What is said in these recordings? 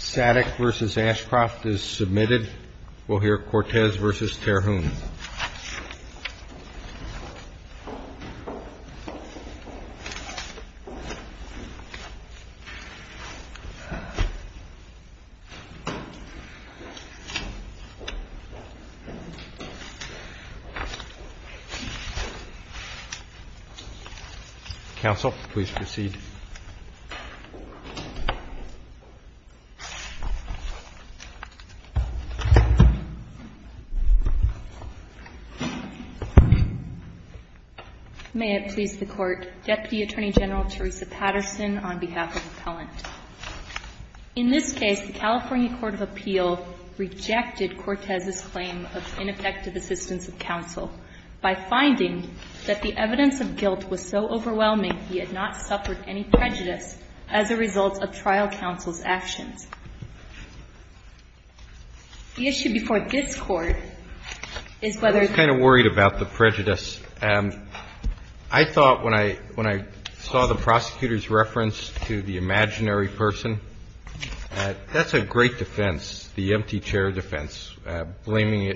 SATIC v. ASHCROFT is submitted. We'll hear CORTEZ v. TERHUNE. Counsel, please proceed. May it please the Court, Deputy Attorney General Teresa Patterson on behalf of Appellant. In this case, the California Court of Appeal rejected CORTEZ's claim of ineffective assistance of counsel by finding that the evidence of guilt was so overwhelming he had not suffered any prejudice as a result of trial counsel's actions. The issue before this Court is whether the ---- I was kind of worried about the prejudice. I thought when I saw the prosecutor's reference to the imaginary person, that's a great defense, the empty chair defense, blaming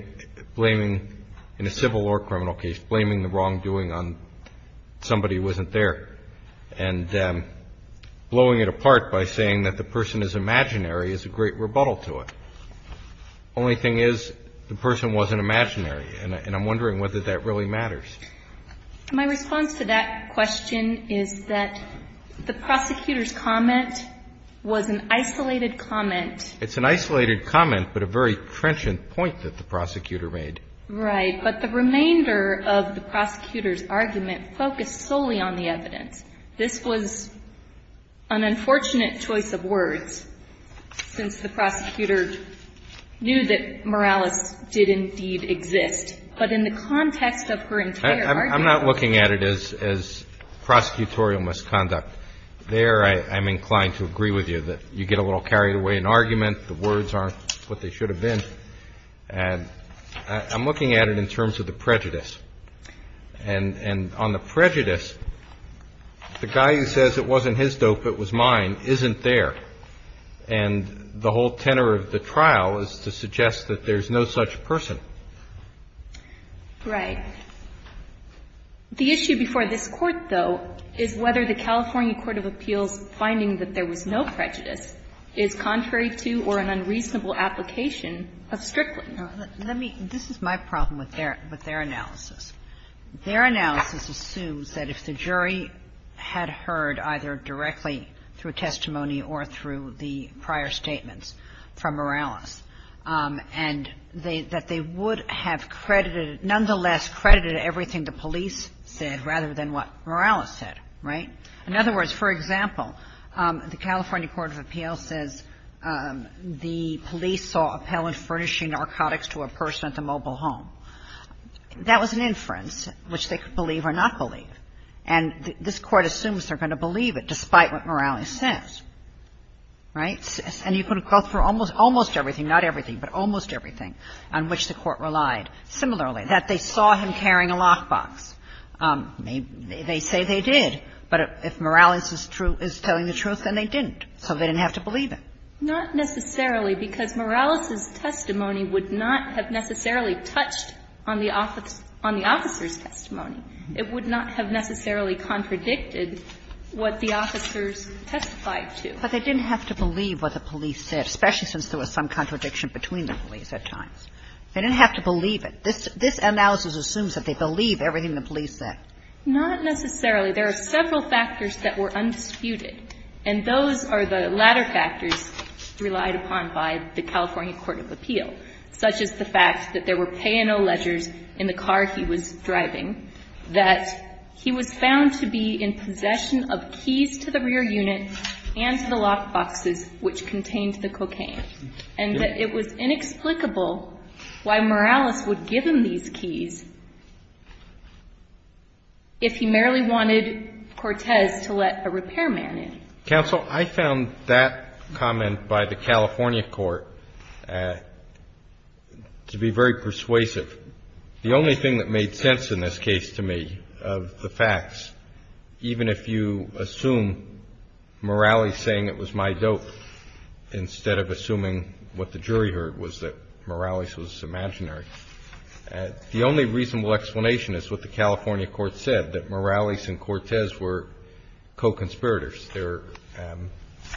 in a civil or criminal case, blaming the wrongdoing on somebody who wasn't there, and blowing it apart by saying that the person is imaginary is a great rebuttal to it. The only thing is the person wasn't imaginary, and I'm wondering whether that really matters. My response to that question is that the prosecutor's comment was an isolated comment. It's an isolated comment, but a very trenchant point that the prosecutor made. Right. But the remainder of the prosecutor's argument focused solely on the evidence. This was an unfortunate choice of words, since the prosecutor knew that Morales did indeed exist. But in the context of her entire argument ---- I'm not looking at it as prosecutorial misconduct. There I'm inclined to agree with you that you get a little carried away in argument. The words aren't what they should have been. And I'm looking at it in terms of the prejudice. And on the prejudice, the guy who says it wasn't his dope, it was mine, isn't there. And the whole tenor of the trial is to suggest that there's no such person. Right. The issue before this Court, though, is whether the California court of appeals finding that there was no prejudice is contrary to or an unreasonable application of Strickland. Let me ---- this is my problem with their analysis. Their analysis assumes that if the jury had heard either directly through testimony or through the prior statements from Morales, and that they would have credited ---- nonetheless credited everything the police said rather than what Morales said. Right? In other words, for example, the California court of appeals says the police saw Appellant furnishing narcotics to a person at the mobile home. That was an inference which they could believe or not believe. And this Court assumes they're going to believe it despite what Morales says. Right? And you could have called for almost everything, not everything, but almost everything on which the Court relied. Similarly, that they saw him carrying a lockbox. They say they did. But if Morales is telling the truth, then they didn't. So they didn't have to believe it. Not necessarily, because Morales's testimony would not have necessarily touched on the officer's testimony. It would not have necessarily contradicted what the officers testified to. But they didn't have to believe what the police said, especially since there was some contradiction between the police at times. They didn't have to believe it. This analysis assumes that they believe everything the police said. Not necessarily. There are several factors that were undisputed. And those are the latter factors relied upon by the California court of appeal, such as the fact that there were pay-and-no ledgers in the car he was driving, that he was found to be in possession of keys to the rear unit and to the lockboxes which contained the cocaine, and that it was inexplicable why Morales would give him these keys if he merely wanted Cortez to let a repairman in. Counsel, I found that comment by the California court to be very persuasive. The only thing that made sense in this case to me of the facts, even if you assume Morales saying it was my dope instead of assuming what the jury heard was that Morales was imaginary, the only reasonable explanation is what the California court said, that Morales and Cortez were co-conspirators. They're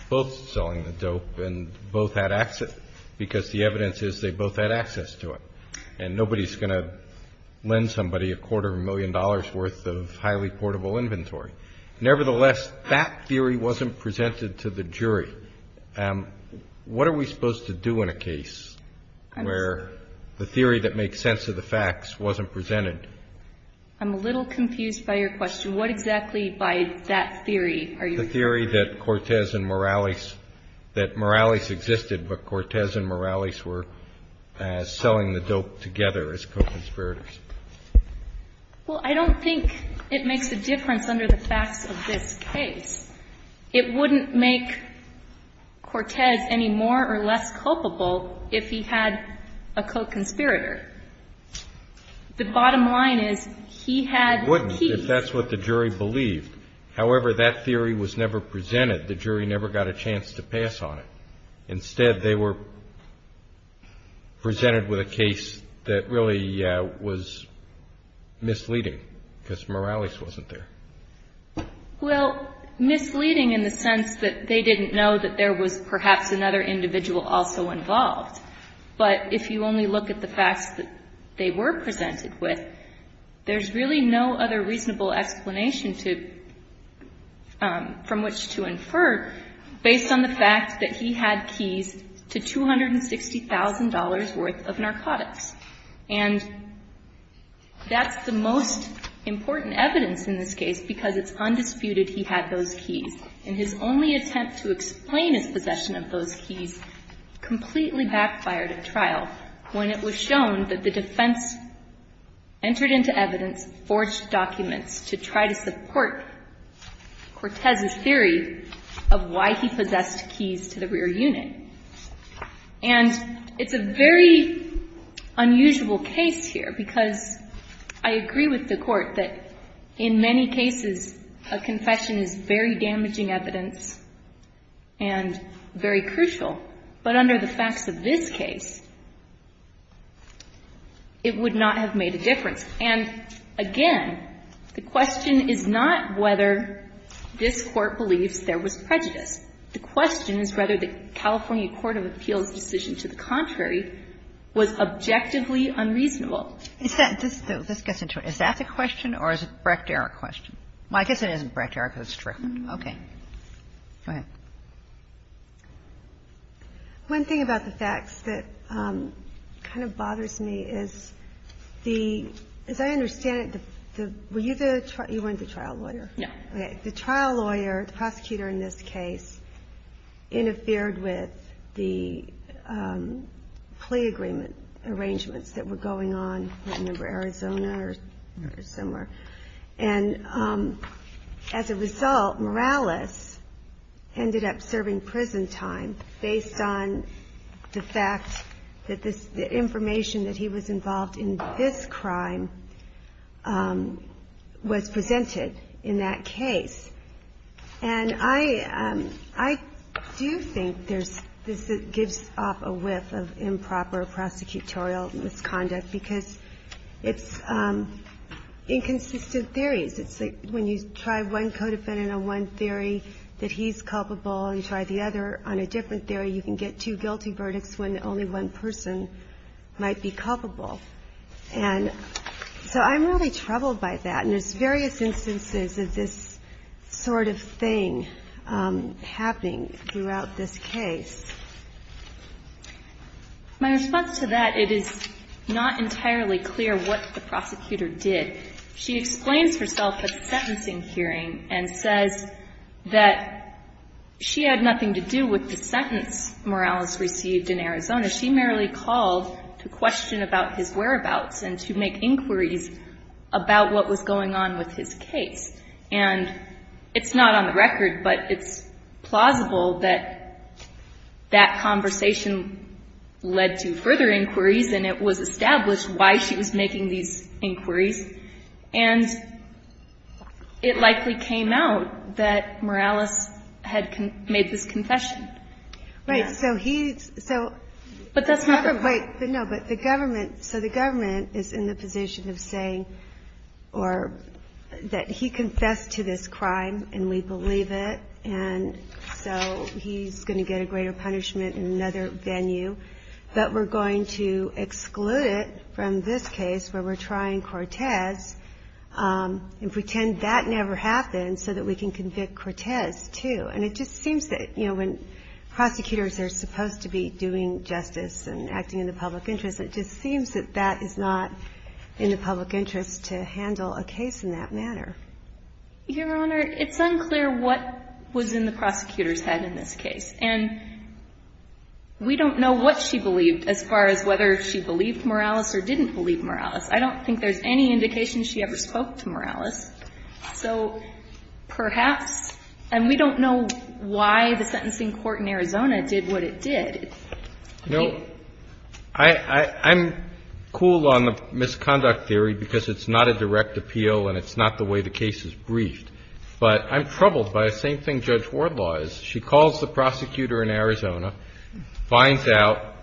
both selling the dope and both had access, because the evidence is they both had access to it. And nobody's going to lend somebody a quarter of a million dollars' worth of highly portable inventory. Nevertheless, that theory wasn't presented to the jury. What are we supposed to do in a case where the theory that makes sense of the facts wasn't presented? I'm a little confused by your question. What exactly by that theory are you referring to? The theory that Cortez and Morales, that Morales existed but Cortez and Morales were selling the dope together as co-conspirators. Well, I don't think it makes a difference under the facts of this case. It wouldn't make Cortez any more or less culpable if he had a co-conspirator. The bottom line is he had keys. It wouldn't if that's what the jury believed. However, that theory was never presented. The jury never got a chance to pass on it. Instead, they were presented with a case that really was misleading, because Morales wasn't there. Well, misleading in the sense that they didn't know that there was perhaps another individual also involved. But if you only look at the facts that they were presented with, there's really no other reasonable explanation from which to infer based on the fact that he had keys to $260,000 worth of narcotics. And that's the most important evidence in this case, because it's undisputed he had those keys. And his only attempt to explain his possession of those keys completely backfired at trial when it was shown that the defense entered into evidence, forged documents to try to support Cortez's theory of why he possessed keys to the rear unit. And it's a very unusual case here, because I agree with the Court that in many cases a confession is very damaging evidence and very crucial, but under the facts of this case, it would not have made a difference. And again, the question is not whether this Court believes there was prejudice. The question is whether the California court of appeals' decision to the contrary was objectively unreasonable. Kagan. This gets into it. Is that the question, or is it a Brecht-Erik question? I guess it isn't Brecht-Erik, but it's true. Okay. Go ahead. One thing about the facts that kind of bothers me is the – as I understand it, were you the – you weren't the trial lawyer. Yeah. The trial lawyer, the prosecutor in this case, interfered with the plea agreement arrangements that were going on. I remember Arizona or somewhere. And as a result, Morales ended up serving prison time based on the fact that this – the information that he was involved in this crime was presented in that case. And I do think there's – this gives off a whiff of improper prosecutorial misconduct because it's inconsistent theories. It's like when you try one co-defendant on one theory that he's culpable and try the other on a different theory, you can get two guilty verdicts when only one person might be culpable. And so I'm really troubled by that. And there's various instances of this sort of thing happening throughout this case. My response to that, it is not entirely clear what the prosecutor did. She explains herself at sentencing hearing and says that she had nothing to do with the sentence Morales received in Arizona. She merely called to question about his whereabouts and to make inquiries about what was going on with his case. And it's not on the record, but it's plausible that that conversation led to further inquiries, and it was established why she was making these inquiries. And it likely came out that Morales had made this confession. Right. So he's – so – But that's not – Wait. No, but the government – so the government is in the position of saying or that he confessed to this crime and we believe it, and so he's going to get a greater punishment in another venue, but we're going to exclude it from this case where we're trying Cortez and pretend that never happened so that we can convict Cortez, too. And it just seems that, you know, when prosecutors are supposed to be doing justice and acting in the public interest, it just seems that that is not in the public interest to handle a case in that manner. Your Honor, it's unclear what was in the prosecutor's head in this case. And we don't know what she believed as far as whether she believed Morales or didn't believe Morales. I don't think there's any indication she ever spoke to Morales. So perhaps – and we don't know why the sentencing court in Arizona did what it did. You know, I'm cool on the misconduct theory because it's not a direct appeal and it's not the way the case is briefed. But I'm troubled by the same thing Judge Wardlaw is. She calls the prosecutor in Arizona, finds out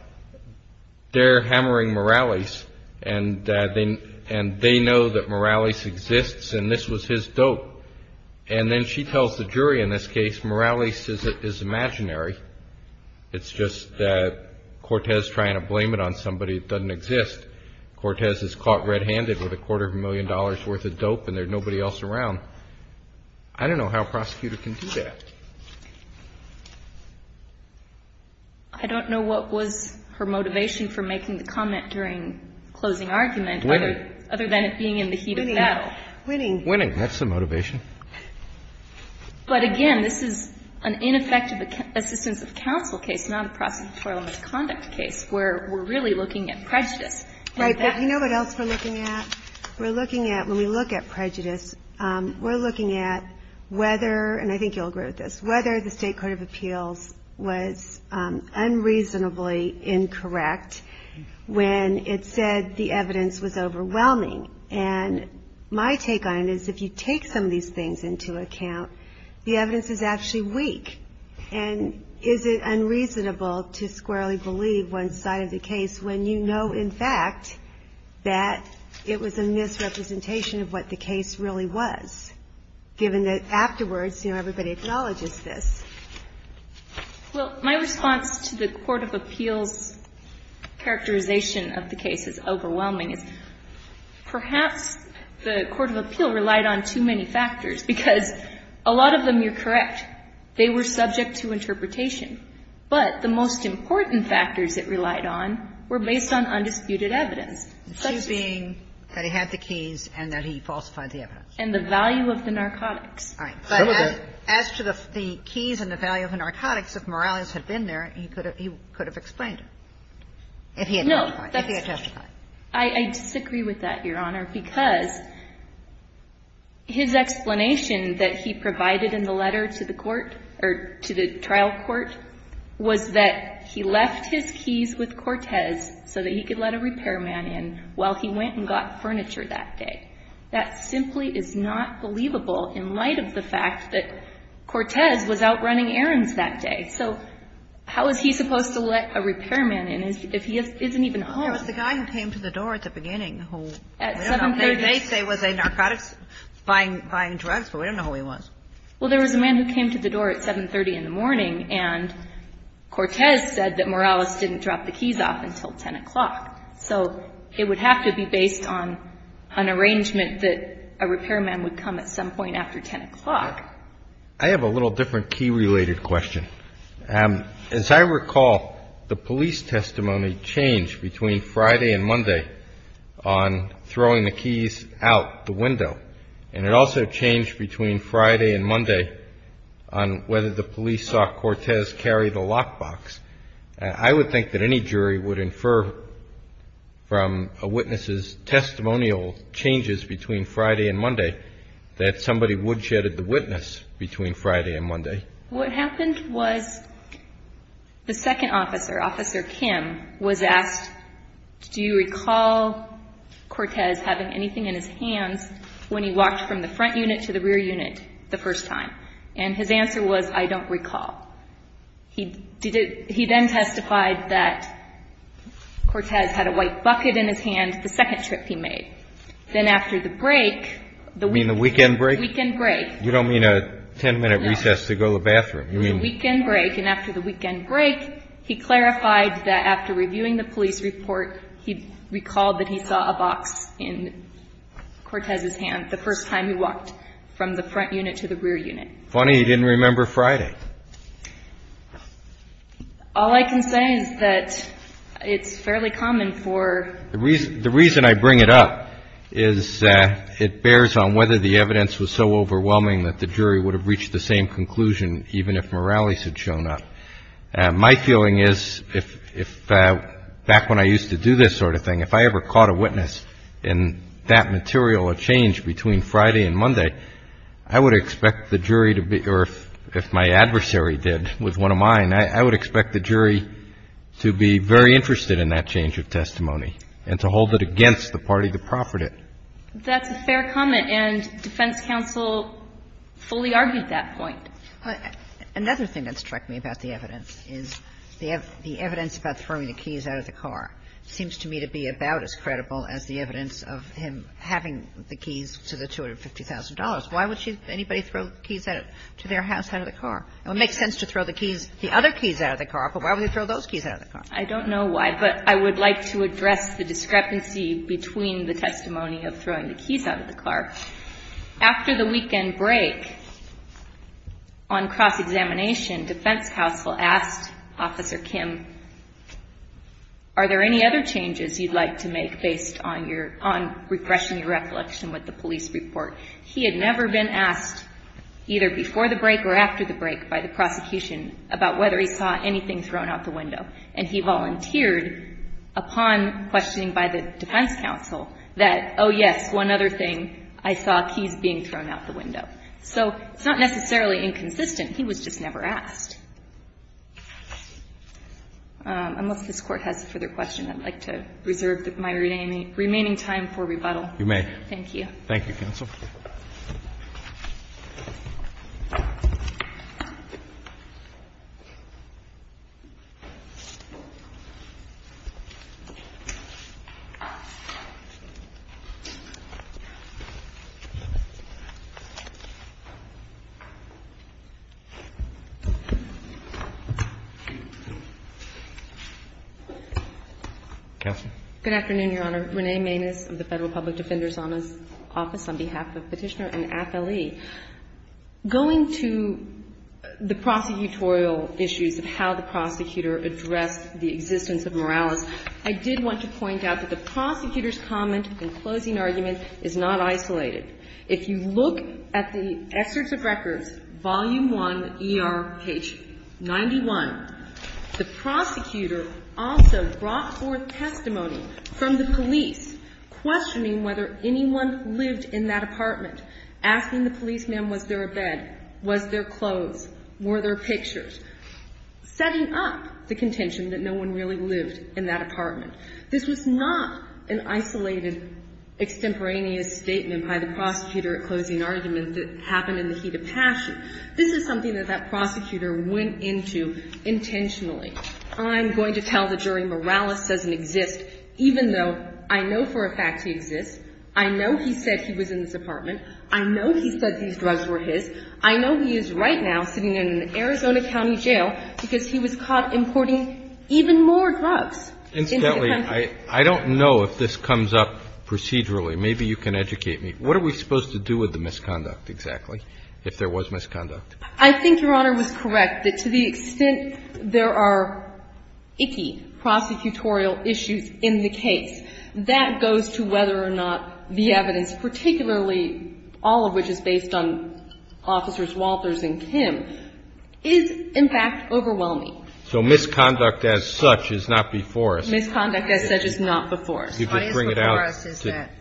they're hammering Morales, and they know that Morales exists and this was his dope. And then she tells the jury in this case, Morales is imaginary. It's just that Cortez trying to blame it on somebody that doesn't exist. Cortez is caught red-handed with a quarter of a million dollars worth of dope and there's nobody else around. I don't know how a prosecutor can do that. I don't know what was her motivation for making the comment during closing argument other than it being in the heat of battle. Winning. Winning. Winning. That's the motivation. But again, this is an ineffective assistance of counsel case, not a prosecutorial misconduct case, where we're really looking at prejudice. Right. But you know what else we're looking at? When we look at prejudice, we're looking at whether, and I think you'll agree with this, whether the state court of appeals was unreasonably incorrect when it said the evidence was overwhelming. And my take on it is if you take some of these things into account, the evidence is actually weak. And is it unreasonable to squarely believe one side of the case when you know, in fact, that it was a misrepresentation of what the case really was, given that afterwards, you know, everybody acknowledges this? Well, my response to the court of appeals' characterization of the case is overwhelming. It's perhaps the court of appeal relied on too many factors, because a lot of them you're correct. They were subject to interpretation. But the most important factors it relied on were based on undisputed evidence. The two being that he had the keys and that he falsified the evidence. And the value of the narcotics. All right. But as to the keys and the value of the narcotics, if Morales had been there, he could have explained it, if he had testified. No, that's not true. I disagree with that, Your Honor, because his explanation that he provided in the letter to the court, or to the trial court, was that he left his keys with Cortez so that he could let a repairman in while he went and got furniture that day. That simply is not believable in light of the fact that Cortez was out running errands that day. So how is he supposed to let a repairman in if he isn't even home? Well, there was the guy who came to the door at the beginning who, I don't know, buying drugs, but we don't know who he was. Well, there was a man who came to the door at 7.30 in the morning, and Cortez said that Morales didn't drop the keys off until 10 o'clock. So it would have to be based on an arrangement that a repairman would come at some point after 10 o'clock. I have a little different key-related question. As I recall, the police testimony changed between Friday and Monday on throwing the keys out the window, and it also changed between Friday and Monday on whether the police saw Cortez carry the lockbox. I would think that any jury would infer from a witness's testimonial changes between Friday and Monday that somebody woodshedded the witness between Friday and Monday. What happened was the second officer, Officer Kim, was asked, do you recall Cortez having anything in his hands when he walked from the front unit to the rear unit the first time? And his answer was, I don't recall. He then testified that Cortez had a white bucket in his hand the second trip he made. Then after the break, the weekend break. You mean the weekend break? Weekend break. You don't mean a 10-minute recess to go to the bathroom? No. Weekend break. Weekend break. And after the weekend break, he clarified that after reviewing the police report, he recalled that he saw a box in Cortez's hand the first time he walked from the front unit to the rear unit. Funny he didn't remember Friday. All I can say is that it's fairly common for the reason I bring it up is it bears on whether the evidence was so overwhelming that the jury would have reached the same conclusion even if Morales had shown up. My feeling is if back when I used to do this sort of thing, if I ever caught a witness in that material, a change between Friday and Monday, I would expect the jury to be or if my adversary did with one of mine, I would expect the jury to be very interested in that change of testimony and to hold it against the party to profit it. That's a fair comment, and defense counsel fully argued that point. Another thing that struck me about the evidence is the evidence about throwing the keys out of the car seems to me to be about as credible as the evidence of him having the keys to the $250,000. Why would anybody throw keys to their house out of the car? It would make sense to throw the keys, the other keys out of the car, but why would he throw those keys out of the car? I don't know why, but I would like to address the discrepancy between the testimony of throwing the keys out of the car. After the weekend break on cross-examination, defense counsel asked Officer Kim, are there any other changes you'd like to make based on your, on refreshing your recollection with the police report? He had never been asked either before the break or after the break by the prosecution about whether he saw anything thrown out the window, and he volunteered upon questioning by the defense counsel that, oh yes, one other thing, I saw keys being thrown out the window. So it's not necessarily inconsistent. He was just never asked. Unless this Court has a further question, I'd like to reserve my remaining time for rebuttal. Roberts. You may. Thank you, counsel. Counsel. Good afternoon, Your Honor. My name is Renee Maness of the Federal Public Defender's Office on behalf of Petitioner and AFLE. Going to the prosecutorial issues of how the prosecutor addressed the existence of Morales, I did want to point out that the prosecutor's comment in closing argument is not isolated. If you look at the excerpts of records, Volume I, ER, page 91, the prosecutor also brought forth testimony from the police questioning whether anyone lived in that apartment, asking the policeman was there a bed, was there clothes, were there pictures, setting up the contention that no one really lived in that apartment. This was not an isolated extemporaneous statement by the prosecutor at closing argument that happened in the heat of passion. This is something that that prosecutor went into intentionally. I'm going to tell the jury Morales doesn't exist, even though I know for a fact he exists. I know he said he was in this apartment. I know he said these drugs were his. I know he is right now sitting in an Arizona county jail because he was caught importing even more drugs into the country. Incidentally, I don't know if this comes up procedurally. Maybe you can educate me. What are we supposed to do with the misconduct, exactly, if there was misconduct? I think Your Honor was correct that to the extent there are icky prosecutorial issues in the case, that goes to whether or not the evidence, particularly all of which is based on Officers Walters and Kim, is in fact overwhelming. So misconduct as such is not before us. Misconduct as such is not before us. What is before us is that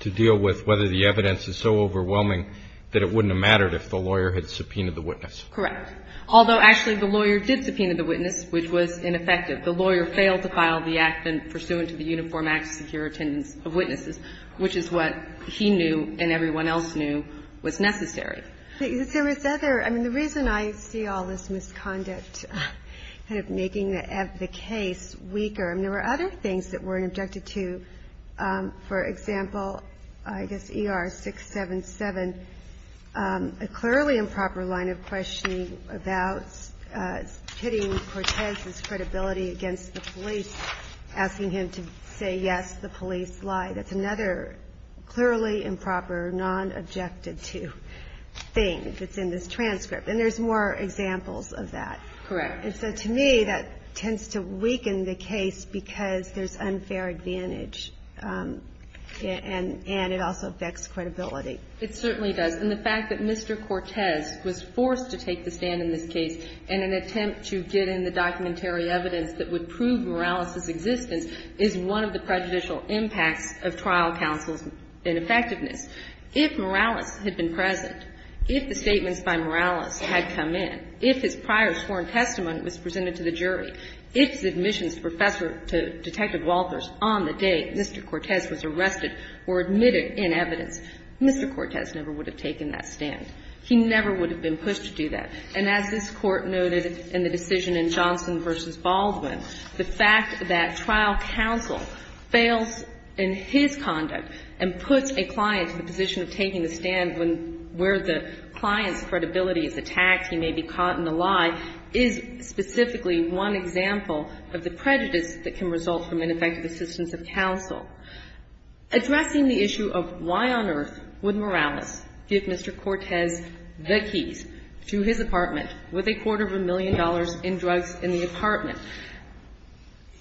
to deal with whether the evidence is so overwhelming that it wouldn't have mattered if the lawyer had subpoenaed the witness. Correct. Although, actually, the lawyer did subpoena the witness, which was ineffective. The lawyer failed to file the act pursuant to the Uniform Act of Secure Attendance of Witnesses, which is what he knew and everyone else knew was necessary. There was other – I mean, the reason I see all this misconduct kind of making the case weaker, I mean, there were other things that weren't objected to. For example, I guess ER-677, a clearly improper line of questioning about pitting Cortez's credibility against the police, asking him to say, yes, the police lied. That's another clearly improper, non-objected-to thing that's in this transcript. And there's more examples of that. Correct. And so to me, that tends to weaken the case because there's unfair advantage and it also affects credibility. It certainly does. And the fact that Mr. Cortez was forced to take the stand in this case in an attempt to get in the documentary evidence that would prove Morales's existence is one of the prejudicial impacts of trial counsel's ineffectiveness. If Morales had been present, if the statements by Morales had come in, if his prior sworn testimony was presented to the jury, if the admissions professor to Detective Walters on the day Mr. Cortez was arrested were admitted in evidence, Mr. Cortez never would have taken that stand. He never would have been pushed to do that. And as this Court noted in the decision in Johnson v. Baldwin, the fact that trial counsel fails in his conduct and puts a client in the position of taking the stand where the client's credibility is attacked, he may be caught in the lie, is specifically one example of the prejudice that can result from ineffective assistance of counsel. Addressing the issue of why on earth would Morales give Mr. Cortez the keys to his apartment with a quarter of a million dollars in drugs in the apartment,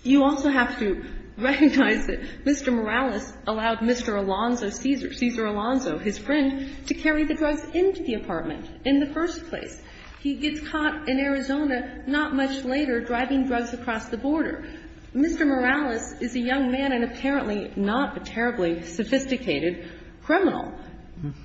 you also have to recognize that Mr. Morales allowed Mr. Alonzo, Cesar Alonzo, his friend, to carry the drugs into the apartment in the first place. He gets caught in Arizona not much later driving drugs across the border. Mr. Morales is a young man and apparently not a terribly sophisticated criminal.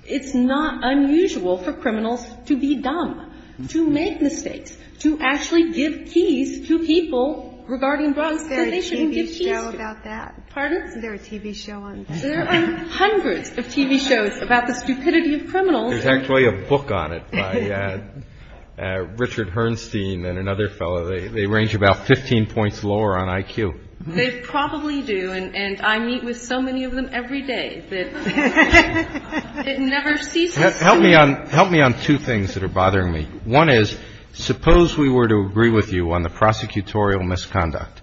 It's not unusual for criminals to be dumb, to make mistakes, to actually give keys to people regarding drugs that they shouldn't give keys to. Kagan. Is there a TV show about that? Pardon? Is there a TV show on that? There are hundreds of TV shows about the stupidity of criminals. There's actually a book on it by Richard Herrnstein and another fellow. They range about 15 points lower on IQ. They probably do, and I meet with so many of them every day that it never ceases to be. Help me on two things that are bothering me. One is suppose we were to agree with you on the prosecutorial misconduct,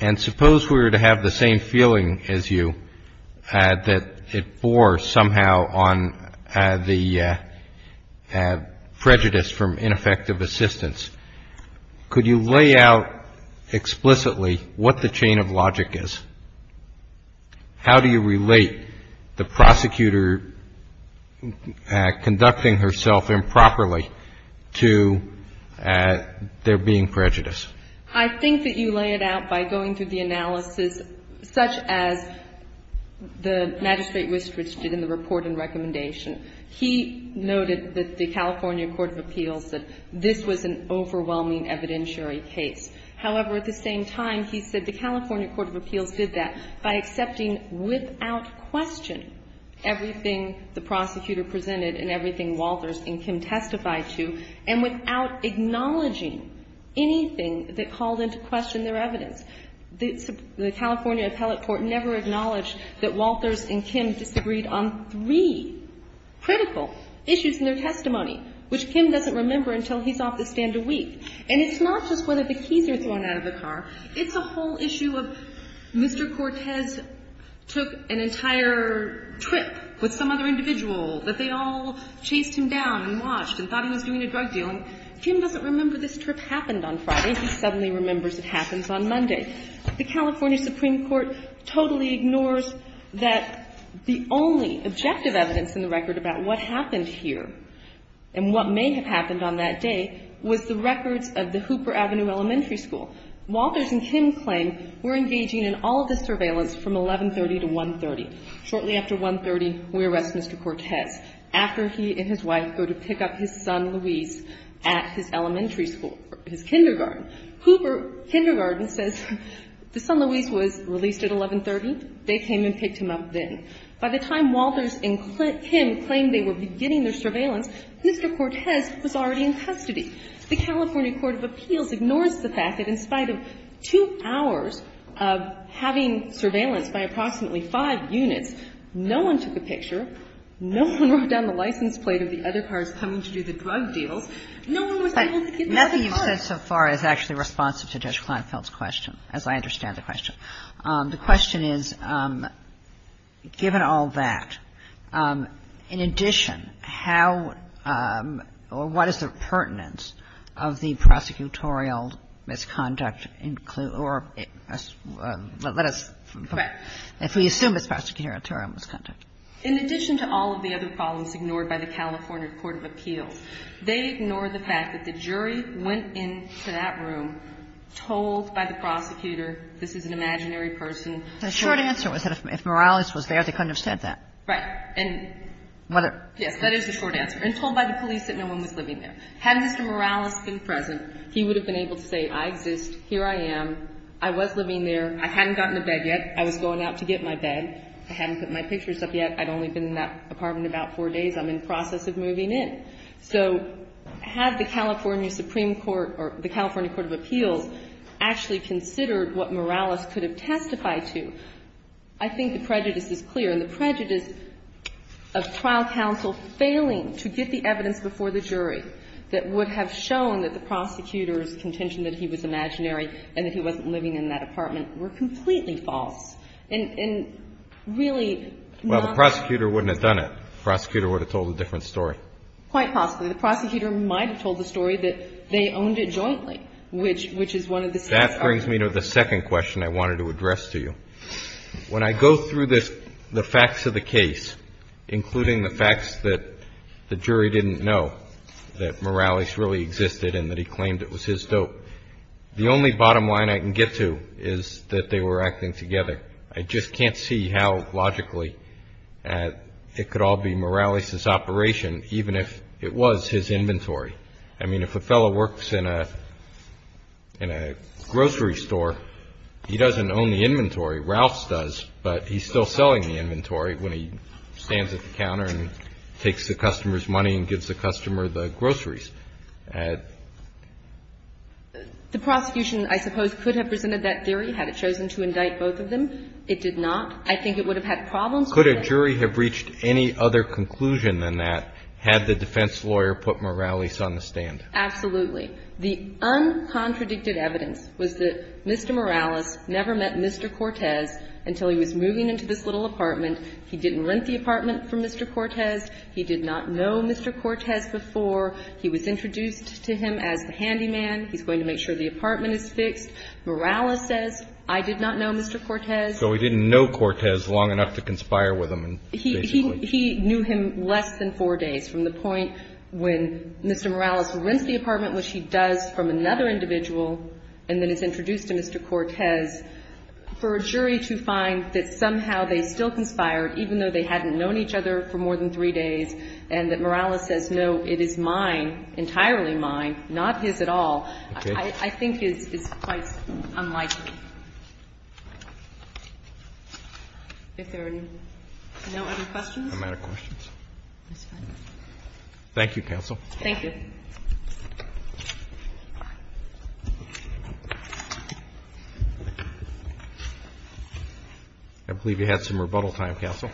and suppose we were to have the same feeling as you that it bore somehow on the prejudice from ineffective assistance. Could you lay out explicitly what the chain of logic is? How do you relate the prosecutor conducting herself improperly to there being prejudice? I think that you lay it out by going through the analysis such as the Magistrate Wistrich did in the report and recommendation. He noted that the California Court of Appeals said this was an overwhelming evidentiary case. However, at the same time, he said the California Court of Appeals did that by accepting without question everything the prosecutor presented and everything Walters and Kim testified to and without acknowledging anything that called into question their evidence. The California appellate court never acknowledged that Walters and Kim disagreed on three critical issues in their testimony, which Kim doesn't remember until he's off the stand a week. And it's not just whether the keys are thrown out of the car. It's a whole issue of Mr. Cortez took an entire trip with some other individual that they all chased him down and watched and thought he was doing a drug deal. And Kim doesn't remember this trip happened on Friday. He suddenly remembers it happens on Monday. The California Supreme Court totally ignores that the only objective evidence in the record about what happened here and what may have happened on that day was the records of the Hooper Avenue Elementary School. Walters and Kim claim we're engaging in all of the surveillance from 1130 to 130. Shortly after 130, we arrest Mr. Cortez after he and his wife go to pick up his son, Luis, at his elementary school, his kindergarten. Hooper Kindergarten says the son, Luis, was released at 1130. They came and picked him up then. By the time Walters and Kim claim they were beginning their surveillance, Mr. Cortez was already in custody. The California court of appeals ignores the fact that in spite of two hours of having surveillance by approximately five units, no one took a picture, no one wrote down the license plate of the other cars coming to do the drug deals. No one was able to get the other car. Kagan. Nothing you've said so far is actually responsive to Judge Kleinfeld's question, as I understand the question. The question is, given all that, in addition, how or what is the pertinence of the prosecution? If we assume his prosecutorial term was conducted. In addition to all of the other problems ignored by the California court of appeals, they ignore the fact that the jury went into that room, told by the prosecutor this is an imaginary person. The short answer was that if Morales was there, they couldn't have said that. Right. And whether. Yes, that is the short answer. And told by the police that no one was living there. Had Mr. Morales been present, he would have been able to say I exist, here I am, I was not in a bed yet. I was going out to get my bed. I hadn't put my pictures up yet. I'd only been in that apartment about four days. I'm in the process of moving in. So had the California Supreme Court or the California court of appeals actually considered what Morales could have testified to, I think the prejudice is clear. And the prejudice of trial counsel failing to get the evidence before the jury that would have shown that the prosecutor's contention that he was imaginary and that he wasn't living in that apartment were completely false. And really not. Well, the prosecutor wouldn't have done it. The prosecutor would have told a different story. Quite possibly. The prosecutor might have told the story that they owned it jointly, which is one of the same stories. That brings me to the second question I wanted to address to you. When I go through the facts of the case, including the facts that the jury didn't know, that Morales really existed and that he claimed it was his dope, the only bottom line I can get to is that they were acting together. I just can't see how logically it could all be Morales' operation, even if it was his inventory. I mean, if a fellow works in a grocery store, he doesn't own the inventory. Ralph's does, but he's still selling the inventory when he stands at the counter and takes the customer's money and gives the customer the groceries. The prosecution, I suppose, could have presented that theory had it chosen to indict both of them. It did not. I think it would have had problems with that. Could a jury have reached any other conclusion than that had the defense lawyer put Morales on the stand? Absolutely. The uncontradicted evidence was that Mr. Morales never met Mr. Cortez until he was moving into this little apartment. He didn't rent the apartment from Mr. Cortez. He did not know Mr. Cortez before. He was introduced to him as the handyman. He's going to make sure the apartment is fixed. Morales says, I did not know Mr. Cortez. So he didn't know Cortez long enough to conspire with him, basically. He knew him less than four days, from the point when Mr. Morales rents the apartment, which he does from another individual and then is introduced to Mr. Cortez, for a jury to find that somehow they still conspired, even though they hadn't known each other for more than three days, and that Morales says, no, it is mine, entirely mine, not his at all, I think is quite unlikely. If there are no other questions? I'm out of questions. That's fine. Thank you, counsel. Thank you. I believe you had some rebuttal time, counsel.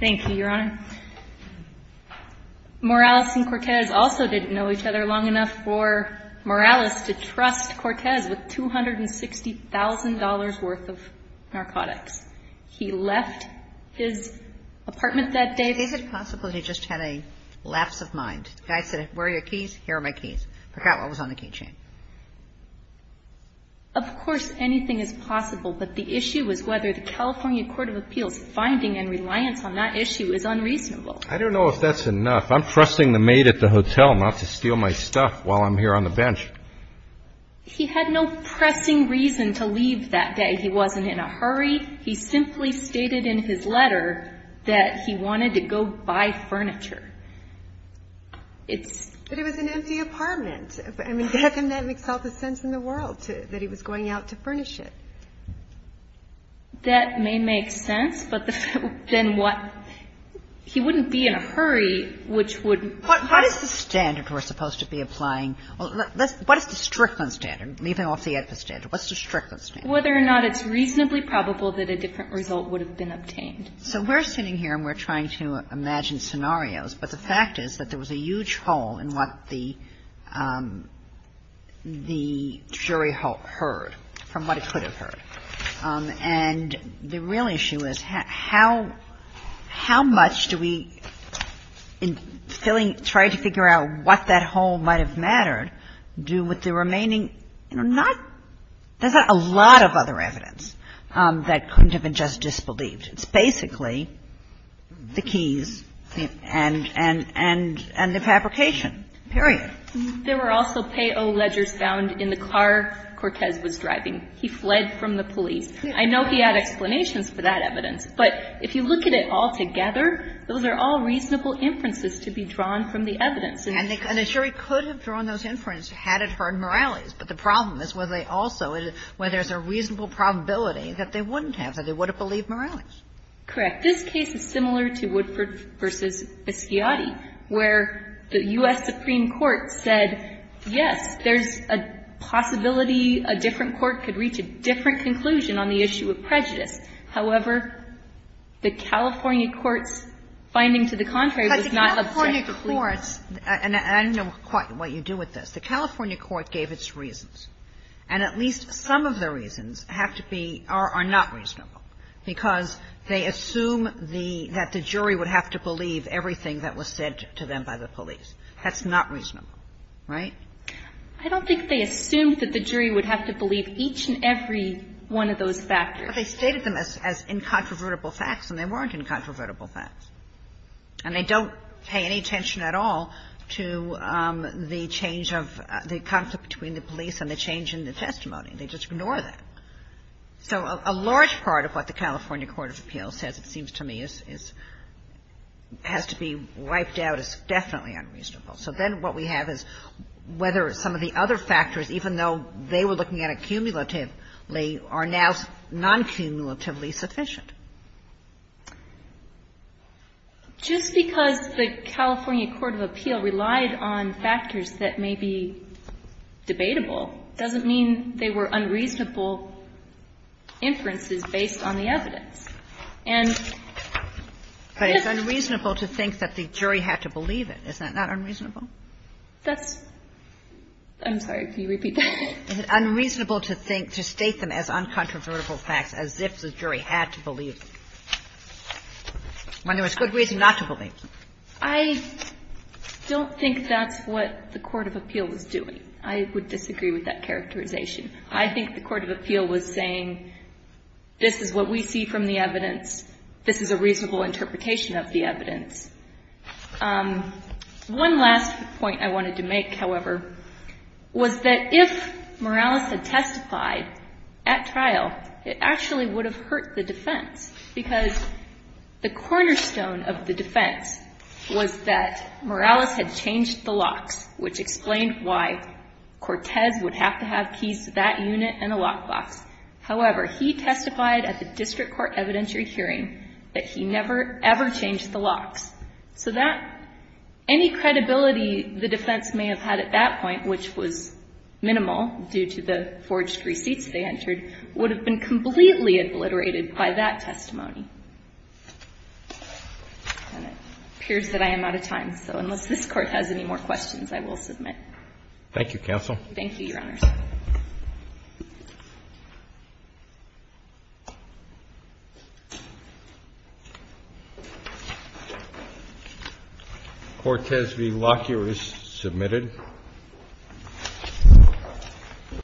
Thank you, Your Honor. Morales and Cortez also didn't know each other long enough for Morales to trust Cortez with $260,000 worth of narcotics. He left his apartment that day. Is it possible he just had a lapse of mind? The guy said, where are your keys? Here are my keys. Forgot what was on the key chain. Of course anything is possible, but the issue was whether the California Court of Appeals' finding and reliance on that issue is unreasonable. I don't know if that's enough. I'm trusting the maid at the hotel not to steal my stuff while I'm here on the bench. He had no pressing reason to leave that day. He wasn't in a hurry. He simply stated in his letter that he wanted to go buy furniture. But it was an empty apartment. I mean, Bethan, that makes all the sense in the world, that he was going out to furnish it. That may make sense, but then what? He wouldn't be in a hurry, which would. What is the standard we're supposed to be applying? What is the Strickland standard, leaving off the AEDPA standard? What's the Strickland standard? Whether or not it's reasonably probable that a different result would have been obtained. So we're sitting here and we're trying to imagine scenarios, but the fact is that there was a huge hole in what the jury heard, from what it could have heard. And the real issue is how much do we, in trying to figure out what that hole might have mattered, do with the remaining, you know, not — there's not a lot of other evidence that couldn't have been just disbelieved. It's basically the keys and the fabrication, period. There were also payo ledgers found in the car Cortez was driving. He fled from the police. I know he had explanations for that evidence, but if you look at it all together, those are all reasonable inferences to be drawn from the evidence. And the jury could have drawn those inferences had it heard Morales, but the problem is whether they also — whether there's a reasonable probability that they wouldn't have, that they would have believed Morales. Correct. This case is similar to Woodford v. Biscotti, where the U.S. Supreme Court said, yes, there's a possibility a different court could reach a different conclusion on the issue of prejudice. However, the California court's finding to the contrary was not objective. But the California court's — and I don't know quite what you do with this. The California court gave its reasons, and at least some of the reasons have to be — are not reasonable, because they assume the — that the jury would have to believe everything that was said to them by the police. That's not reasonable, right? I don't think they assumed that the jury would have to believe each and every one of those factors. But they stated them as incontrovertible facts, and they weren't incontrovertible facts. And they don't pay any attention at all to the change of — the conflict between the police and the change in the testimony. They just ignore that. So a large part of what the California court of appeals says, it seems to me, is — has to be wiped out as definitely unreasonable. So then what we have is whether some of the other factors, even though they were looking at it cumulatively, are now non-cumulatively sufficient. Just because the California court of appeal relied on factors that may be debatable doesn't mean they were unreasonable inferences based on the evidence. And — But it's unreasonable to think that the jury had to believe it. Isn't that unreasonable? That's — I'm sorry. Can you repeat that? Is it unreasonable to think — to state them as incontrovertible facts as if the jury had to believe them, when there was good reason not to believe them? I don't think that's what the court of appeal was doing. I would disagree with that characterization. I think the court of appeal was saying, this is what we see from the evidence. This is a reasonable interpretation of the evidence. One last point I wanted to make, however, was that if Morales had testified at trial, it actually would have hurt the defense. Because the cornerstone of the defense was that Morales had changed the locks, which explained why Cortez would have to have keys to that unit and a lockbox. However, he testified at the district court evidentiary hearing that he never, ever changed the locks. So that — any credibility the defense may have had at that point, which was minimal due to the forged receipts they entered, would have been completely obliterated by that testimony. And it appears that I am out of time, so unless this court has any more questions, I will submit. Thank you, counsel. Thank you, Your Honors. Cortez v. Lockyer is submitted.